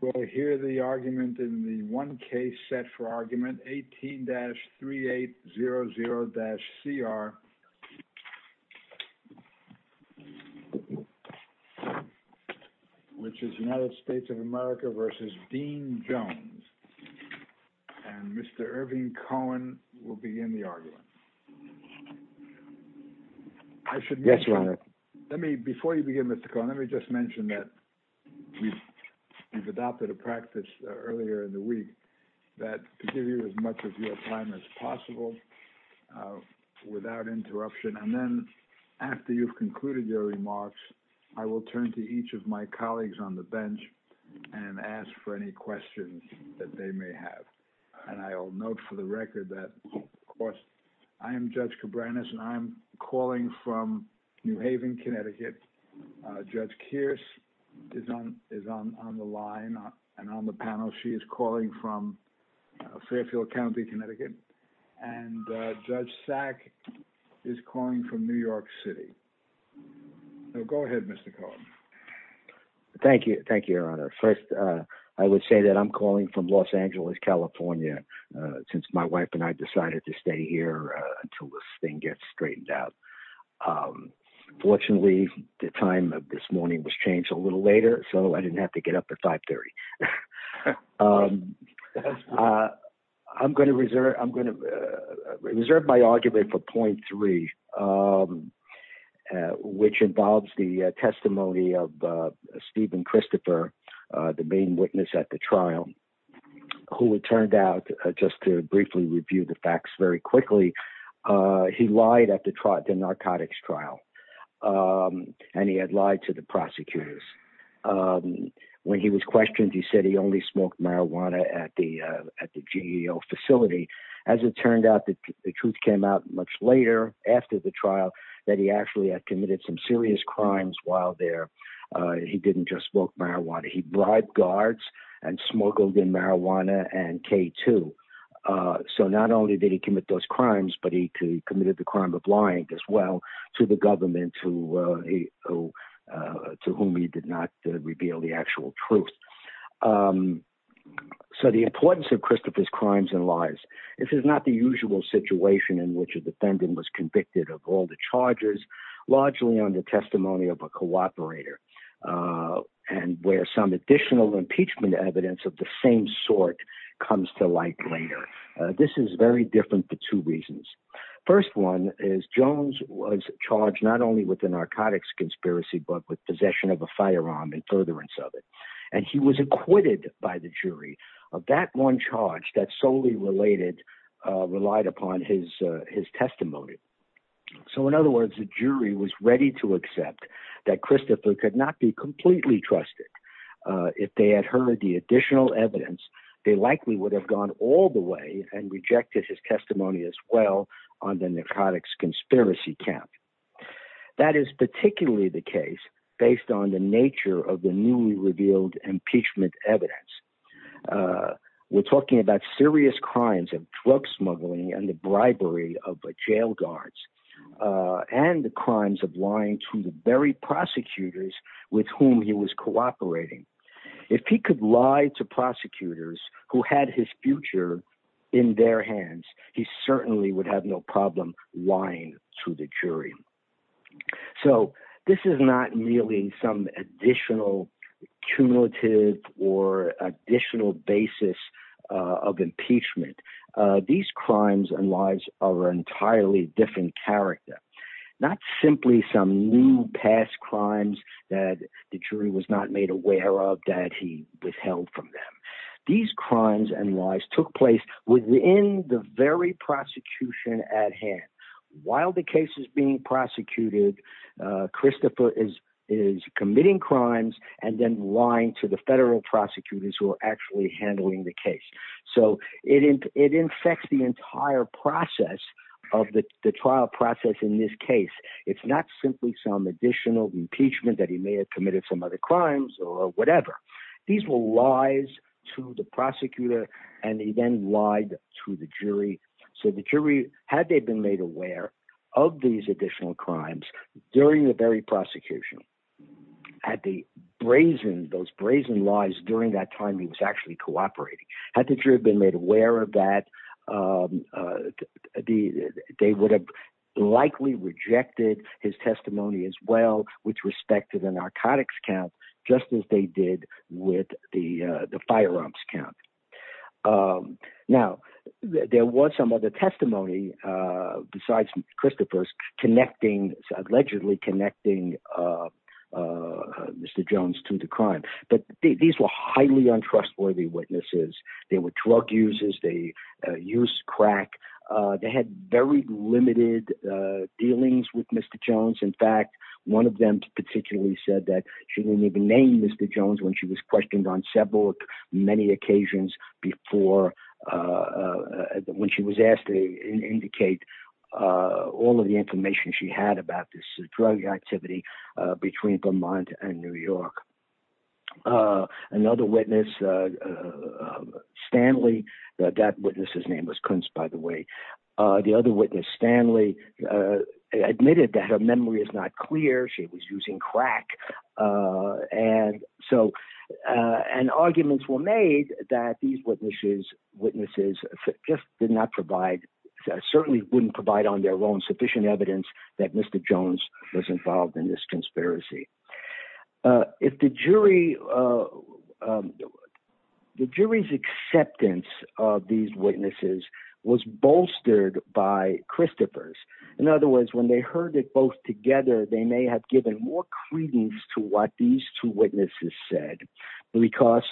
We'll hear the argument in the one case set for argument 18-3800-CR, which is United States of America versus Dean Jones. And Mr. Irving Cohen will begin the argument. I should... Yes, your honor. Let me, before you begin Mr. Cohen, let me just mention that we've adopted a practice earlier in the week that to give you as much of your time as possible without interruption. And then after you've concluded your remarks, I will turn to each of my colleagues on the bench and ask for any questions that they may have. And I will note for the record that, of course, I am Judge Cabranes, and I'm calling from New Haven, Connecticut. Judge Kearse is on the line and on the panel. She is calling from Fairfield County, Connecticut. And Judge Sack is calling from New York City. So go ahead, Mr. Cohen. Thank you. Thank you, your honor. First, I would say that I'm calling from Los Angeles, California, since my wife and I decided to stay here until this thing gets straightened out. Fortunately, the time of this morning was changed a little later, so I didn't have to get up at 5.30. I'm going to reserve my argument for point three, which involves the testimony of Stephen Christopher, the main witness at the trial, who, it turned out, just to briefly review the facts very quickly, he lied at the narcotics trial, and he had lied to the prosecutors. When he was questioned, he said he only smoked marijuana at the GEO facility. As it turned out, the truth came out much later, after the trial, that he actually had committed some serious crimes while there. He didn't just smoke marijuana. He bribed guards and smuggled in marijuana and K2. So not only did he commit those crimes, but he committed the crime of lying as well to the government, to whom he did not reveal the actual truth. So the importance of Christopher's crimes and lies. This is not the usual situation in which the defendant was convicted of all the charges, largely on the testimony of a cooperator, and where some additional impeachment evidence of the same sort comes to light later. This is very different for two reasons. First one is Jones was charged not only with the narcotics conspiracy, but with possession of a firearm and furtherance of it, and he was acquitted by the jury of that charge that solely relied upon his testimony. So in other words, the jury was ready to accept that Christopher could not be completely trusted. If they had heard the additional evidence, they likely would have gone all the way and rejected his testimony as well on the narcotics conspiracy count. That is particularly the case based on the nature of the newly revealed impeachment evidence. We're talking about serious crimes of drug smuggling and the bribery of jail guards and the crimes of lying to the very prosecutors with whom he was cooperating. If he could lie to prosecutors who had his future in their hands, he certainly would have no problem lying to the jury. So this is not merely some additional cumulative or additional basis of impeachment. These crimes and lies are an entirely different character, not simply some new past crimes that the jury was not made aware of that he withheld from them. These crimes and very prosecution at hand. While the case is being prosecuted, Christopher is committing crimes and then lying to the federal prosecutors who are actually handling the case. So it infects the entire process of the trial process in this case. It's not simply some additional impeachment that he may have committed some other crimes or whatever. These were lies to the prosecutor, and he then lied to the jury. So the jury, had they been made aware of these additional crimes during the very prosecution, had the brazen, those brazen lies during that time he was actually cooperating, had the jury been made aware of that, they would have likely rejected his testimony as respect to the narcotics count, just as they did with the firearms count. Now, there was some other testimony, besides Christopher's, allegedly connecting Mr. Jones to the crime. But these were highly untrustworthy witnesses. They were drug users, they used crack. They had very limited dealings with Mr. Jones. In fact, one of them particularly said that she didn't even name Mr. Jones when she was questioned on several, many occasions before, when she was asked to indicate all of the information she had about this drug activity between Vermont and New York. Another witness, Stanley, that witness's name was Kuntz, by the way. The other witness, Stanley, admitted that her memory is not clear. She was using crack. And so, and arguments were made that these witnesses just did not provide, certainly wouldn't provide on their own sufficient evidence that Mr. Jones was involved in this conspiracy. If the jury, the jury's acceptance of these witnesses was bolstered by Christopher's. In other words, when they heard it both together, they may have given more credence to what these two witnesses said. Because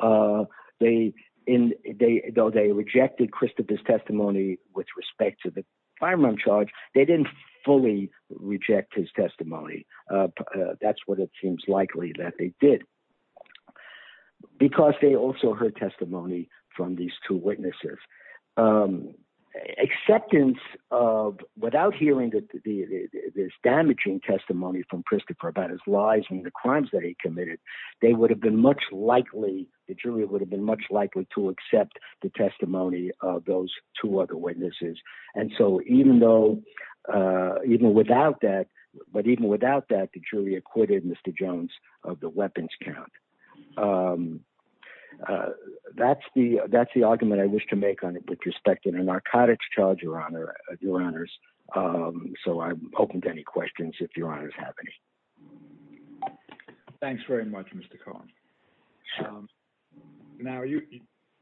they, though they rejected Christopher's testimony with respect to the firearm charge, they didn't fully reject his testimony. That's what it seems likely that they did. Because they also heard testimony from these two witnesses. Acceptance of, without hearing this damaging testimony from Christopher about his lies and the crimes that he committed, they would have been much likely, the jury would have been much likely to accept the testimony of those two other witnesses. And so, even though, even without that, but even without that, the jury acquitted Mr. Jones of the weapons count. That's the, that's the argument I wish to make on it with respect to the narcotics charge, your honors. So, I'm open to any questions if your honors have any. Thanks very much, Mr. Cohen. Now,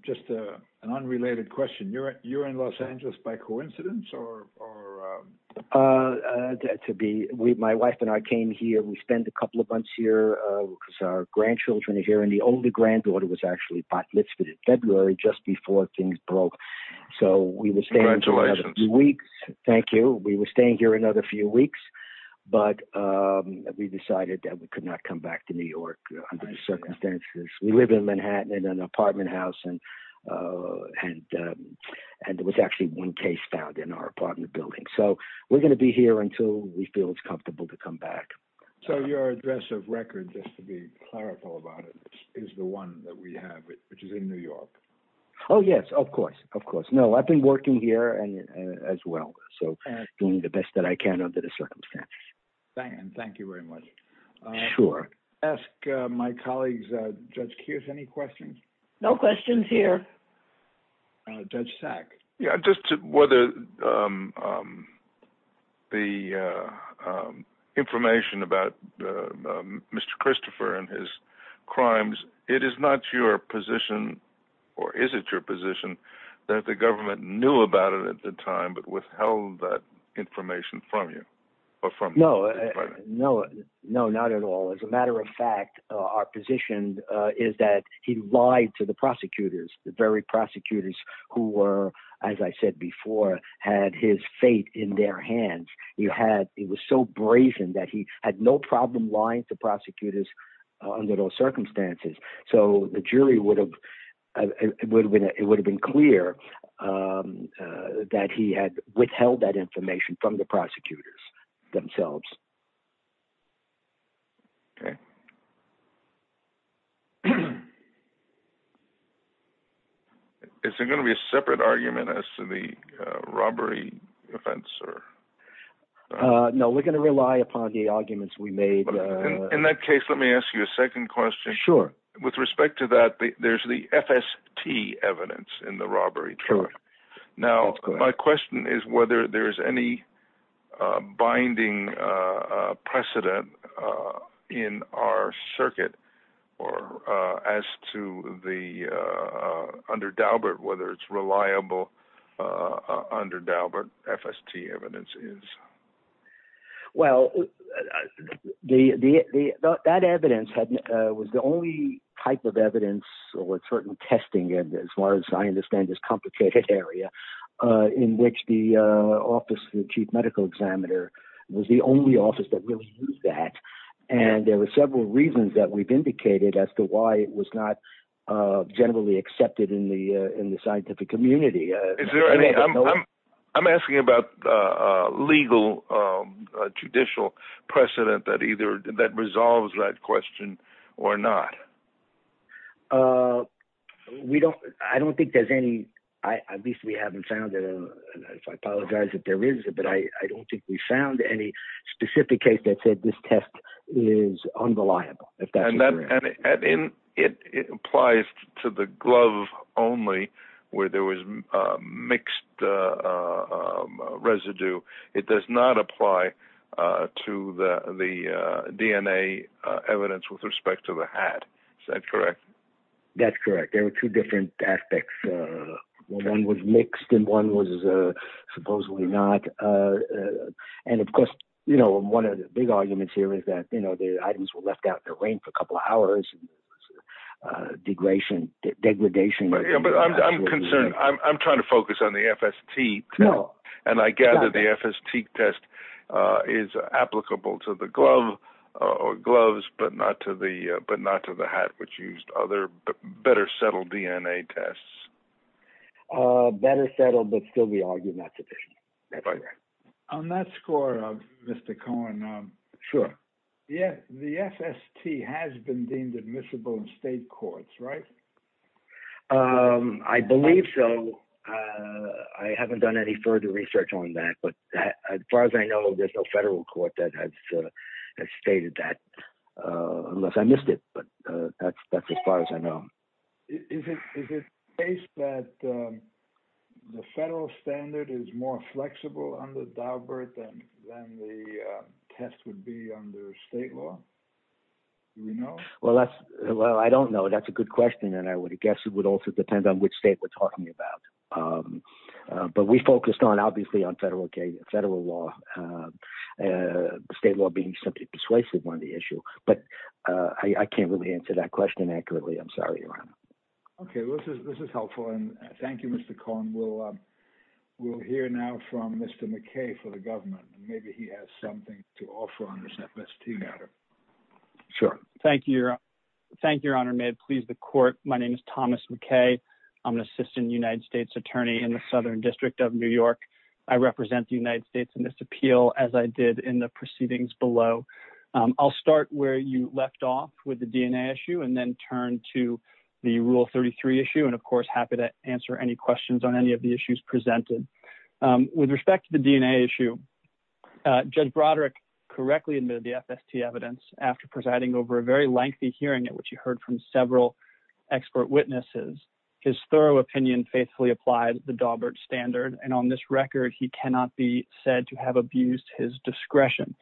just an unrelated question. You're in Los Angeles by coincidence or? To be, my wife and I came here, we spent a couple of months here because our grandchildren are here. And the only granddaughter was actually February, just before things broke. So, we were staying here for a few weeks. Thank you. We were staying here another few weeks, but we decided that we could not come back to New York under the circumstances. We live in Manhattan in an apartment house and, and, and there was actually one case found in our apartment building. So, we're going to be here until we feel it's comfortable to come back. So, your address of record, just to be clarifical about it, is the one that we have which is in New York. Oh, yes, of course, of course. No, I've been working here and as well. So, doing the best that I can under the circumstances. Thank you very much. Sure. Ask my colleagues, Judge Keith, any questions? No questions here. Judge Sack? Yeah, just whether the information about Mr. Christopher and his crimes, it is not your position, or is it your position, that the government knew about it at the time but withheld that information from you? No, no, no, not at all. As a matter of fact, our position is that he lied to prosecutors, the very prosecutors who were, as I said before, had his fate in their hands. He had, he was so brazen that he had no problem lying to prosecutors under those circumstances. So, the jury would have, it would have been clear that he had withheld that information from the public. Is there going to be a separate argument as to the robbery offense? No, we're going to rely upon the arguments we made. In that case, let me ask you a second question. Sure. With respect to that, there's the FST evidence in the robbery trial. Now, my question is whether there's any binding precedent in our circuit or as to the, under Daubert, whether it's reliable under Daubert, FST evidence is? Well, that evidence was the only type of evidence with certain testing, as far as I understand, this complicated area in which the office of the medical examiner was the only office that really used that. And there were several reasons that we've indicated as to why it was not generally accepted in the scientific community. I'm asking about legal, judicial precedent that either, that resolves that question or not. We don't, I don't think there's any, at least we haven't found it. And if I apologize if there is, but I don't think we found any specific case that said this test is unreliable. It applies to the glove only where there was a mixed residue. It does not apply to the DNA evidence with respect to the hat. Is that correct? That's correct. There were two different aspects. One was mixed and one was supposedly not. And of course, you know, one of the big arguments here is that, you know, the items were left out in the rain for a couple of hours, degradation, degradation. But I'm concerned. I'm trying to focus on the FST. And I gather the FST test is applicable to the glove or gloves, but not to the, but not to the hat, which used other better settled DNA tests. Better settled, but still we argue not sufficient. On that score of Mr. Cohen. Sure. Yeah. The FST has been deemed admissible in state courts, right? Um, I believe so. Uh, I haven't done any further research on that, but as far as I know, there's no federal court that has, uh, has stated that, uh, unless I missed it, but, uh, that's, that's as far as I know. Is it, is it the case that, um, the federal standard is more flexible under Daubert than, than the, uh, test would be under state law? Do we know? Well, that's, well, I don't know. That's a good question. And I would have guessed it would also depend on which state we're talking about. Um, uh, but we focused on, obviously on federal K federal law, uh, uh, state law being simply persuasive on the issue, but, uh, I can't really answer that question accurately. I'm sorry. Okay. Well, this is, this is helpful. And thank you, Mr. Cohen. We'll, um, we'll hear now from Mr. McKay for the government, and maybe he has something to offer on this FST matter. Sure. Thank you. Thank you, Your Honor. May it please the court. My name is Thomas McKay. I'm an assistant United States attorney in the Southern district of New York. I represent the United States in this appeal as I did in the proceedings below. Um, I'll start where you left off with the DNA issue and then turn to the rule 33 issue. And of course, happy to answer any questions on any of the issues presented, um, with respect to the DNA issue, uh, judge Broderick correctly admitted the FST evidence after presiding over a very lengthy hearing at which you heard from several expert witnesses, his thorough opinion faithfully applied the Daubert standard. And on this record, he cannot be said to have abused his discretion.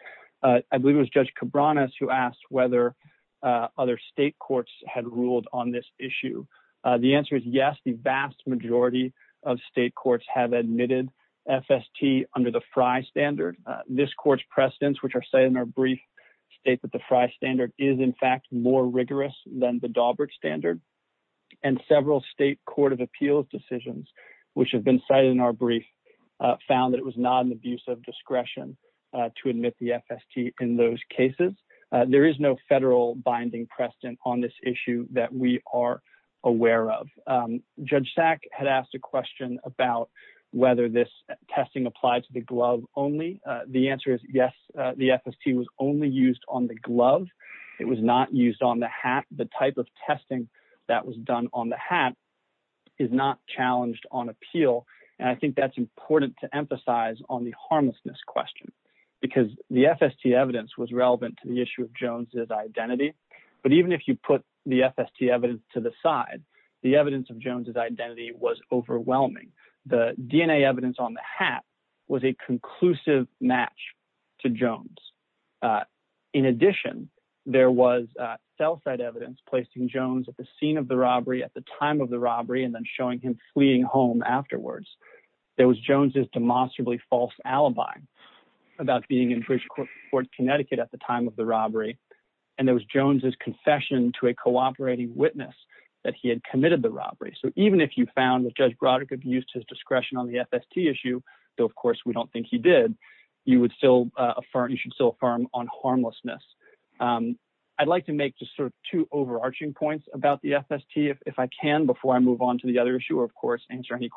Uh, I believe it was judge Cabrera who asked whether, uh, other state courts had ruled on this issue. Uh, the answer is yes. The vast majority of state courts have admitted FST under the fry standard. Uh, this court's precedents, which are set in our brief state that the fry standard is in fact more rigorous than the Daubert standard and several state court of appeals decisions, which have been cited in our brief, uh, found that it was not an abuse of discretion, uh, to admit the FST in those cases. Uh, there is no federal binding precedent on this issue that we are aware of. Um, judge sack had asked a question about whether this testing applied to the glove only. Uh, the answer is yes. Uh, the FST was only used on the glove. It was not used on the hat. The type of testing that was done on the hat is not challenged on appeal. And I think that's important to emphasize on the harmlessness question because the FST evidence was relevant to the issue of Jones's identity. But even if you put the FST evidence to the side, the evidence of Jones's identity was overwhelming. The DNA evidence on the hat was a conclusive match to Jones. Uh, in addition, there was, uh, cell site evidence placing Jones at the scene of the robbery at the time of the robbery, and then showing him fleeing home afterwards. There was Jones's demonstrably false alibi about being in British court, Connecticut at the time of the robbery. And there was Jones's confession to a cooperating witness that he had committed the robbery. So even if you found that judge Broderick abused his discretion on the FST issue, though, of course we don't think he did, you would still, uh, affirm, you should still affirm on harmlessness. Um, I'd like to make just sort of two overarching points about the FST if, if I can, before I move on to the other issue, of course, answer any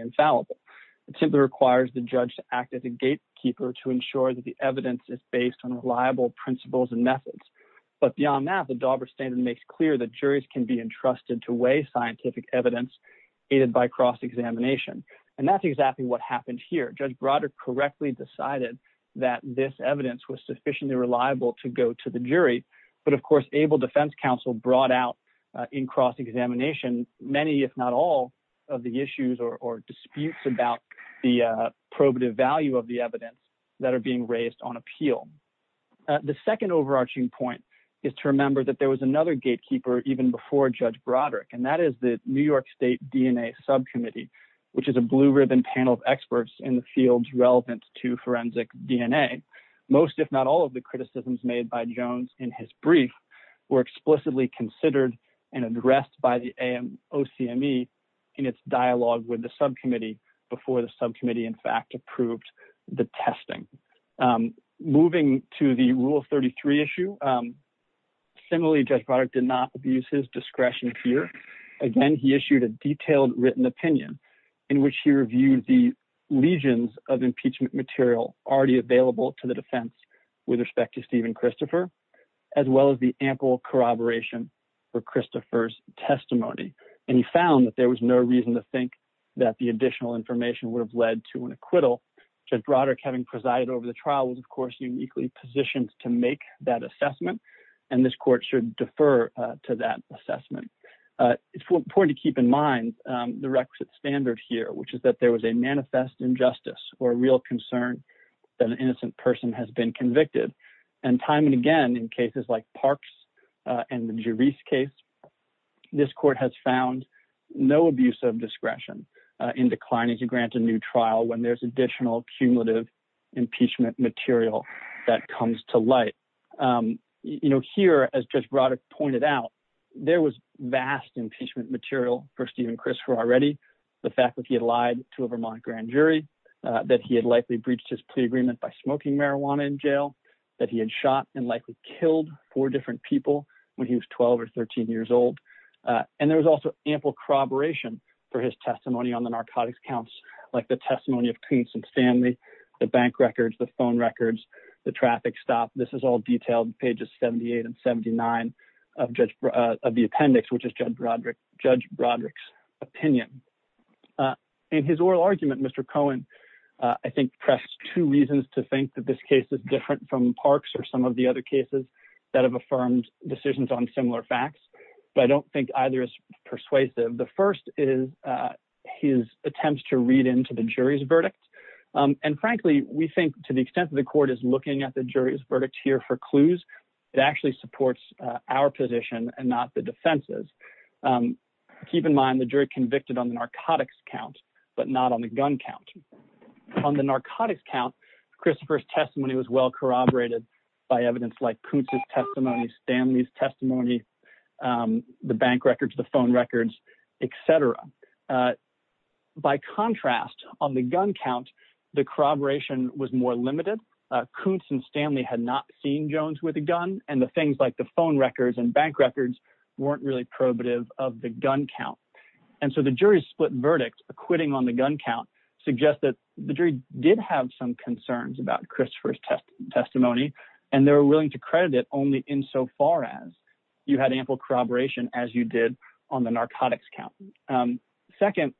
infallible. It simply requires the judge to act as a gatekeeper to ensure that the evidence is based on reliable principles and methods. But beyond that, the Dauber standard makes clear that juries can be entrusted to weigh scientific evidence aided by cross-examination. And that's exactly what happened here. Judge Broderick correctly decided that this evidence was sufficiently reliable to go to the jury. But of course, able defense counsel brought out, in cross-examination many, if not all of the issues or disputes about the probative value of the evidence that are being raised on appeal. The second overarching point is to remember that there was another gatekeeper even before judge Broderick, and that is the New York state DNA subcommittee, which is a blue ribbon panel of experts in the fields relevant to forensic DNA. Most, if not all of the criticisms made by Jones in his brief were explicitly considered addressed by the OCME in its dialogue with the subcommittee before the subcommittee, in fact, approved the testing. Moving to the rule 33 issue, similarly, judge Broderick did not abuse his discretion here. Again, he issued a detailed written opinion in which he reviewed the legions of impeachment material already available to the defense with respect to Steven Christopher, as well as the ample corroboration for Christopher's testimony. And he found that there was no reason to think that the additional information would have led to an acquittal. Judge Broderick, having presided over the trial, was of course, uniquely positioned to make that assessment. And this court should defer to that assessment. It's important to keep in mind the requisite standard here, which is that there was a justice or a real concern that an innocent person has been convicted. And time and again, in cases like Parks and the Jerice case, this court has found no abuse of discretion in declining to grant a new trial when there's additional cumulative impeachment material that comes to light. You know, here, as judge Broderick pointed out, there was vast impeachment material for Grand Jury, that he had likely breached his plea agreement by smoking marijuana in jail, that he had shot and likely killed four different people when he was 12 or 13 years old. And there was also ample corroboration for his testimony on the narcotics counts, like the testimony of Clemson Stanley, the bank records, the phone records, the traffic stop. This is all detailed pages 78 and 79 of the appendix, which is judge Broderick's opinion. And his oral argument, Mr. Cohen, I think pressed two reasons to think that this case is different from Parks or some of the other cases that have affirmed decisions on similar facts. But I don't think either is persuasive. The first is his attempts to read into the jury's verdict. And frankly, we think to the extent that the court is looking at the jury's verdict here for clues, it actually supports our position and not the defense's. Keep in mind the jury convicted on gun count. On the narcotics count, Christopher's testimony was well corroborated by evidence like Koontz's testimony, Stanley's testimony, the bank records, the phone records, etc. By contrast, on the gun count, the corroboration was more limited. Koontz and Stanley had not seen Jones with a gun and the things like the phone records and bank records weren't really probative of the gun count. And so the jury's split verdict acquitting on the gun count suggests that the jury did have some concerns about Christopher's testimony, and they were willing to credit it only insofar as you had ample corroboration as you did on the narcotics count. Second,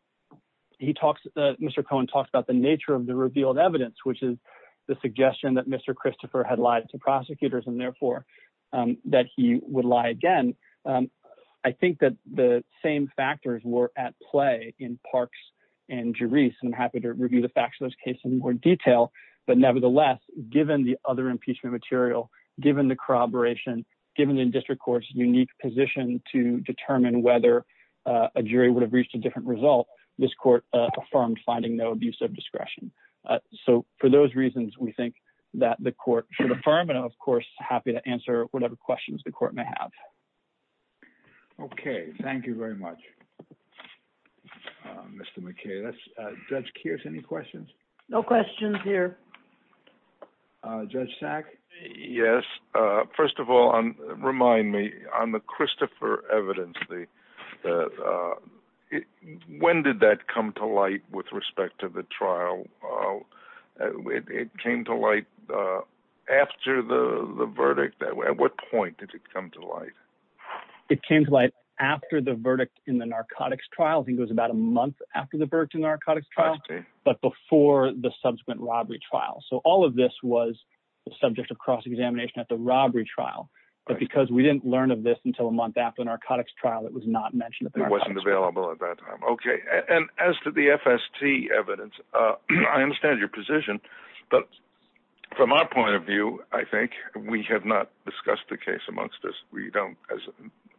Mr. Cohen talks about the nature of the revealed evidence, which is the suggestion that the same factors were at play in Parks and Juris. And I'm happy to review the facts of this case in more detail. But nevertheless, given the other impeachment material, given the corroboration, given the district court's unique position to determine whether a jury would have reached a different result, this court affirmed finding no abuse of discretion. So for those reasons, we think that the court should affirm. And of course, happy to answer whatever questions the Thank you very much, Mr. McKay. That's Judge Kears. Any questions? No questions here. Judge Sack? Yes. First of all, remind me on the Christopher evidence, when did that come to light with respect to the trial? It came to light after the verdict. At what point did it come to light? It came to light after the verdict in the narcotics trial. I think it was about a month after the verdict in the narcotics trial, but before the subsequent robbery trial. So all of this was the subject of cross-examination at the robbery trial. But because we didn't learn of this until a month after the narcotics trial, it was not mentioned. It wasn't available at that time. Okay. And as to the FST evidence, I understand your position, but from our point of view, I think we have not discussed the case amongst us. We don't as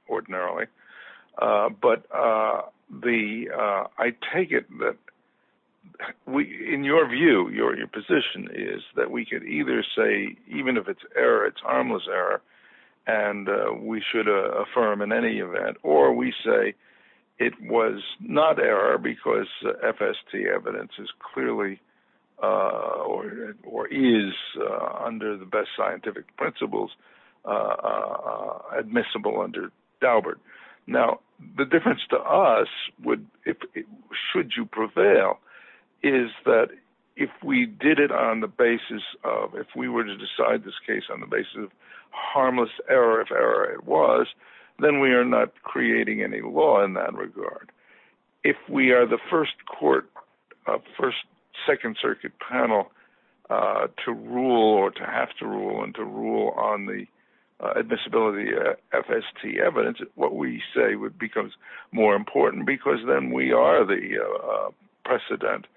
ordinarily, but I take it that in your view, your position is that we could either say, even if it's error, it's harmless error, and we should affirm in any event, or we say it was not error because FST evidence is clearly or is under the best scientific principles admissible under Daubert. Now, the difference to us would, should you prevail, is that if we did it on the basis of, if we were to decide this case on the basis of harmless error, if error was, then we are not creating any law in that regard. If we are the first court, first second circuit panel to rule or to have to rule and to rule on the admissibility FST evidence, what we say would become more important because then we are the precedent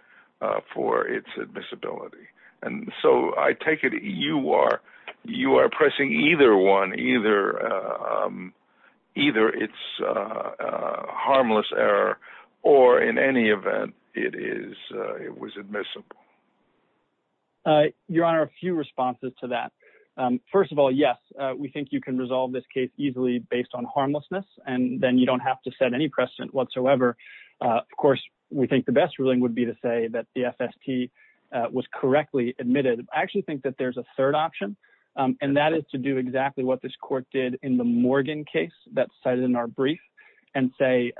for its admissibility. And so I take it you are, you are pressing either one, or in any event, it is, it was admissible. Your Honor, a few responses to that. First of all, yes, we think you can resolve this case easily based on harmlessness, and then you don't have to set any precedent whatsoever. Of course, we think the best ruling would be to say that the FST was correctly admitted. I actually think that there's a third option, and that is to do exactly what this court did in the Morgan case that's cited in our brief, and say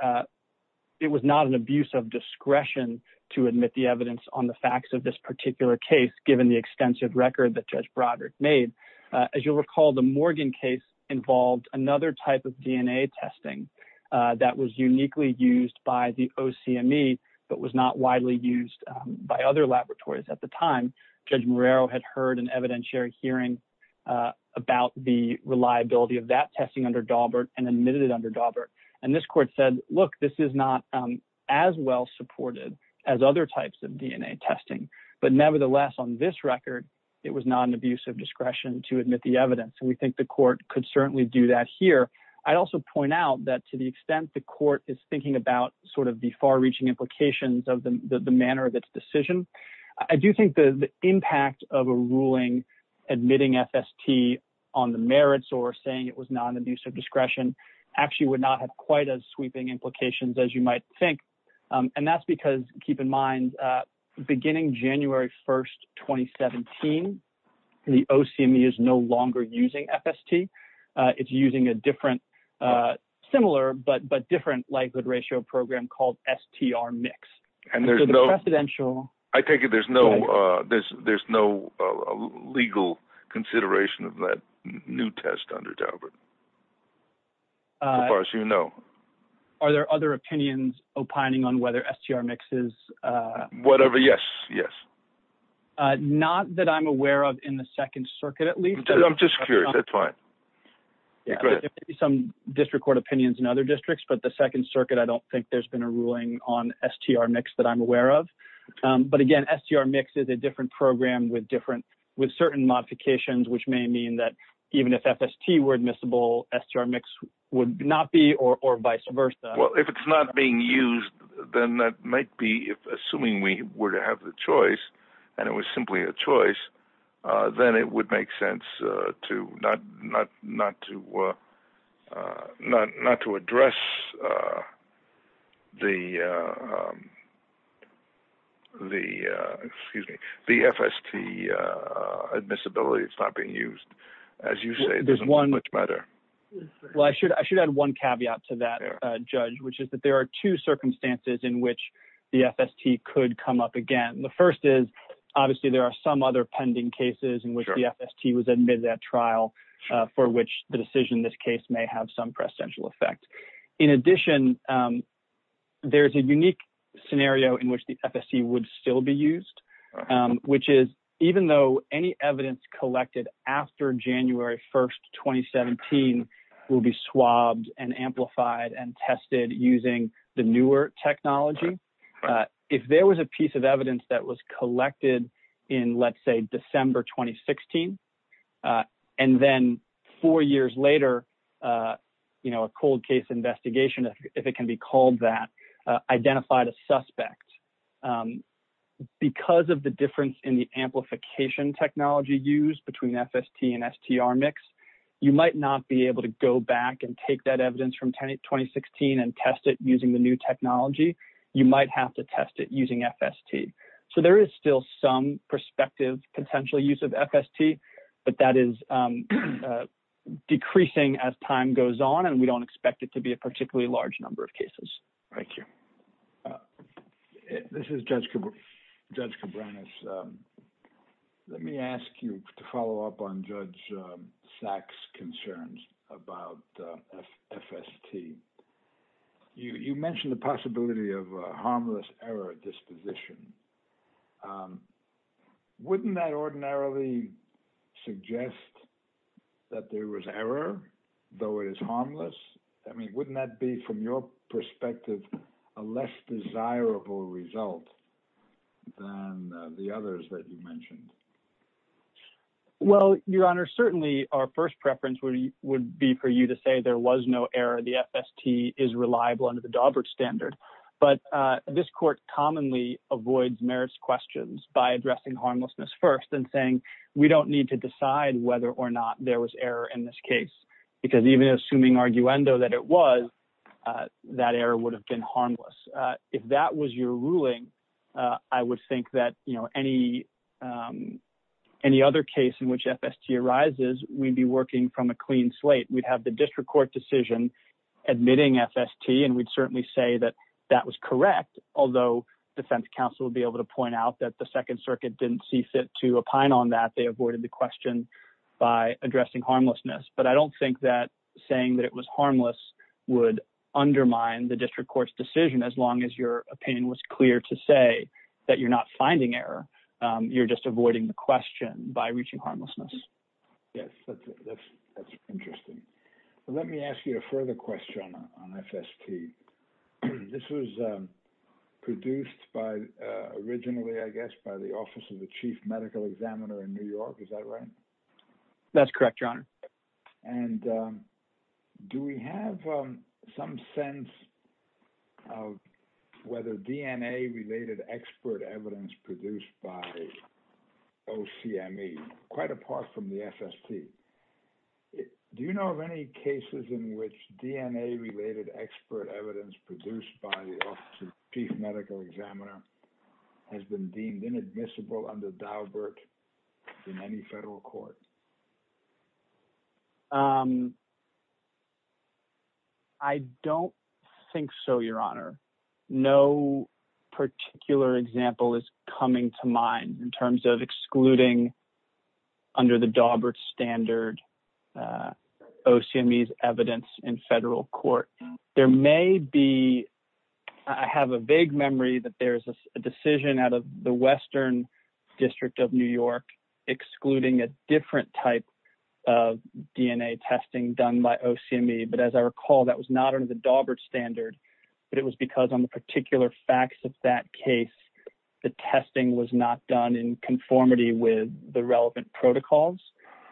it was not an abuse of discretion to admit the evidence on the facts of this particular case, given the extensive record that Judge Broderick made. As you'll recall, the Morgan case involved another type of DNA testing that was uniquely used by the OCME, but was not widely used by other laboratories at the time. Judge Marrero had heard an evidentiary hearing about the reliability of that testing under Daubert and admitted it under Daubert. And this court said, look, this is not as well supported as other types of DNA testing. But nevertheless, on this record, it was not an abuse of discretion to admit the evidence. And we think the court could certainly do that here. I'd also point out that to the extent the court is thinking about sort of the far-reaching implications of the manner of its decision, I do think the impact of a ruling admitting FST on the merits or saying it was not an abuse of discretion actually would not have quite as sweeping implications as you might think. And that's because, keep in mind, beginning January 1, 2017, the OCME is no longer using FST. It's using a different, similar but different likelihood ratio program called STR-MIX. And there's no— So the precedential— I take it there's no legal consideration of that new test under Daubert, as far as you know. Are there other opinions opining on whether STR-MIX is— Whatever, yes. Yes. Not that I'm aware of in the Second Circuit, at least. I'm just curious. That's fine. Go ahead. There may be some district court opinions in other districts, but the Second Circuit, I don't think there's been a ruling on STR-MIX that I'm aware of. But again, STR-MIX is a different program with different—with certain modifications, which may mean that even if FST were admissible, STR-MIX would not be, or vice versa. Well, if it's not being used, then that might be—assuming we were to have the choice, and it was simply a choice, then it would make sense not to address the FST admissibility. It's not being used. As you say, it doesn't much matter. Well, I should add one caveat to that, Judge, which is that there are two circumstances in which the FST could come up again. The first is, obviously, there are some other pending cases in which the FST was admitted at trial, for which the decision in this case may have some presidential effect. In addition, there's a unique scenario in which the FST would still be used, which is, even though any evidence collected after January 1st, 2017 will be swabbed and if there was a piece of evidence that was collected in, let's say, December 2016, and then four years later, you know, a cold case investigation, if it can be called that, identified a suspect. Because of the difference in the amplification technology used between FST and STR-MIX, you might not be able to go back and take that evidence from 2016 and test it using the new technology. You might have to test it using FST. So, there is still some prospective potential use of FST, but that is decreasing as time goes on, and we don't expect it to be a particularly large number of cases. Thank you. This is Judge Cabranes. Let me ask you to follow up on Judge Sachs' concerns about FST. You mentioned the possibility of a harmless error disposition. Wouldn't that ordinarily suggest that there was error, though it is harmless? I mean, wouldn't that be, from your perspective, a less desirable result than the others that you have? Well, Your Honor, certainly our first preference would be for you to say there was no error. The FST is reliable under the Daubert standard. But this court commonly avoids merits questions by addressing harmlessness first and saying, we don't need to decide whether or not there was error in this case, because even assuming arguendo that it was, that error would have been harmless. If that was your ruling, I would think that any other case in which FST arises, we'd be working from a clean slate. We'd have the district court decision admitting FST, and we'd certainly say that that was correct, although defense counsel would be able to point out that the Second Circuit didn't see fit to opine on that. They avoided the question by addressing harmlessness. But I don't think that saying that it was harmless would undermine the district court's decision as long as your opinion was clear to say that you're not finding error. You're just avoiding the question by reaching harmlessness. Yes, that's interesting. Let me ask you a further question on FST. This was produced by, originally, I guess, by the Office of the Chief Medical Examiner in New York. Is that right? That's correct, Your Honor. And do we have some sense of whether DNA-related expert evidence produced by OCME, quite apart from the FST, do you know of any cases in which DNA-related expert evidence produced by the Office of the Chief Medical Examiner has been deemed inadmissible under Daubert in any federal court? I don't think so, Your Honor. No particular example is coming to mind in terms of excluding, under the Daubert standard, OCME's evidence in federal court. There may be, I have a vague memory that there's a decision out of the Western District of New York excluding a different type of DNA testing done by OCME. But as I recall, that was not under the Daubert standard. But it was because on the particular facts of that case, the testing was not done in conformity with the relevant protocols.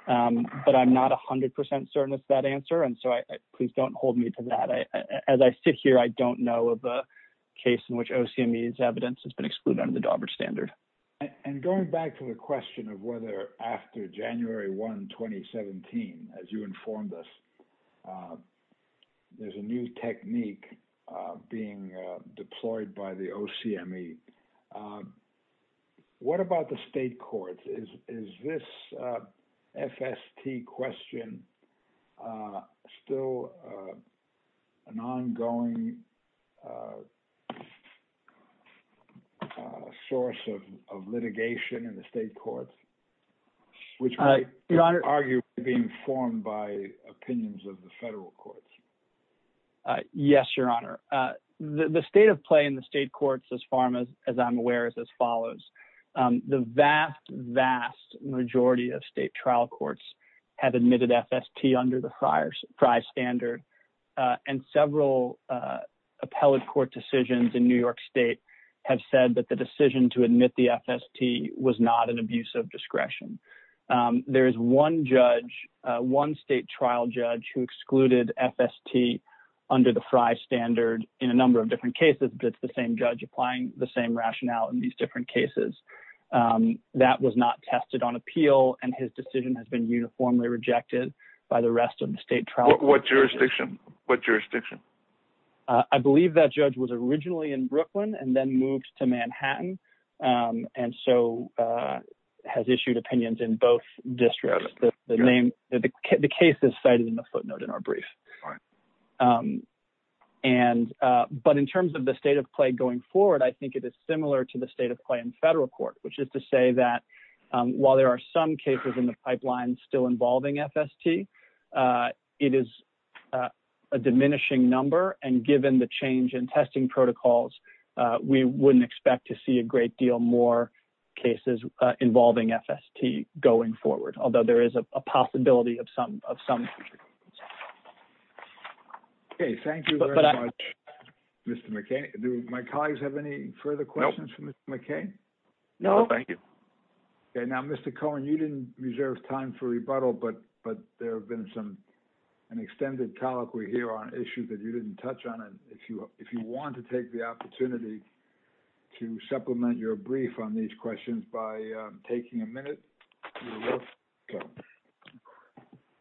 But I'm not 100% certain that's that answer. And so please don't hold me to that. As I sit here, I don't know of a case in which OCME's evidence has been excluded under the Daubert standard. And going back to the question of whether after January 1, 2017, as you informed us, there's a new technique being deployed by the OCME, what about the state courts? Is this FST question still an ongoing source of litigation in the state courts, which might arguably be informed by opinions of the federal courts? Yes, Your Honor. The state of play in the state courts as far as I'm aware is as follows. The vast, vast majority of state trial courts have admitted FST under the FRI standard. And several appellate court decisions in New York State have said that the decision to admit the FST was not an abuse of discretion. There is one judge, one state trial judge who excluded FST under the FRI standard in a number of different cases, but it's the same judge applying the same cases. That was not tested on appeal and his decision has been uniformly rejected by the rest of the state trial. What jurisdiction? What jurisdiction? I believe that judge was originally in Brooklyn and then moved to Manhattan and so has issued opinions in both districts. The case is cited in the footnote in our brief. But in terms of the state of play going forward, I think it is similar to the state of play in federal court, which is to say that while there are some cases in the pipeline still involving FST, it is a diminishing number. And given the change in testing protocols, we wouldn't expect to see a great deal more cases involving FST going forward, although there is a possibility of some future. Okay. Thank you very much, Mr. McKay. Do my thank you. Okay. Now, Mr. Cohen, you didn't reserve time for rebuttal, but there have been an extended colloquy here on issues that you didn't touch on. If you want to take the opportunity to supplement your brief on these questions by taking a minute.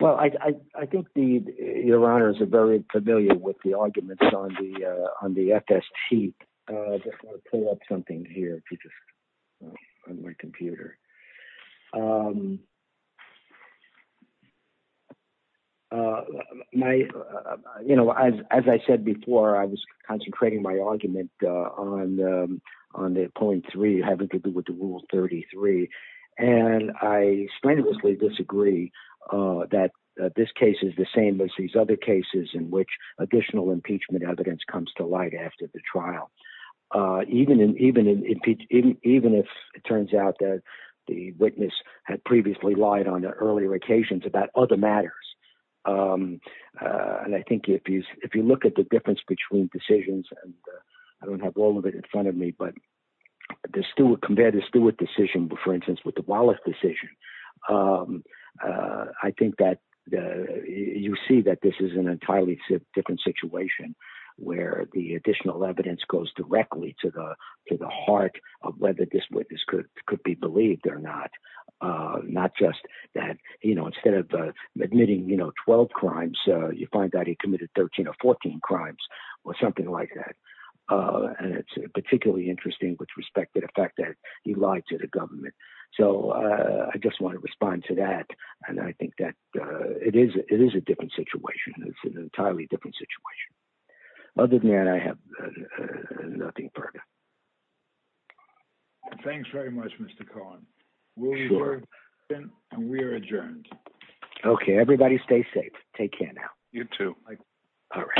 Well, I think your honors are very familiar with the arguments on the FST. I just want to pull up something here on my computer. As I said before, I was concentrating my argument on the point three, having to do with the rule 33. And I strenuously disagree that this case is the same as these other cases in which additional impeachment evidence comes to light after the trial. Even if it turns out that the witness had previously lied on earlier occasions about other matters. And I think if you look at the difference between decisions, I don't have all of it in front of me, but compare the Stewart decision, for instance, with the Wallace decision, I think that you see that this is an entirely different situation where the additional evidence goes directly to the heart of whether this witness could be believed or not. Not just that, you know, instead of admitting, you know, 12 crimes, you find that he committed 13 or 14 crimes or something like that. And it's particularly interesting with respect to the fact that he lied to the government. So I just want to respond to that. And I think that it is, it is a different situation. It's an entirely different situation. Other than that, I have nothing further. Thanks very much, Mr. Cohen. And we are adjourned. Okay, everybody stay safe. Take care now. You too. All right.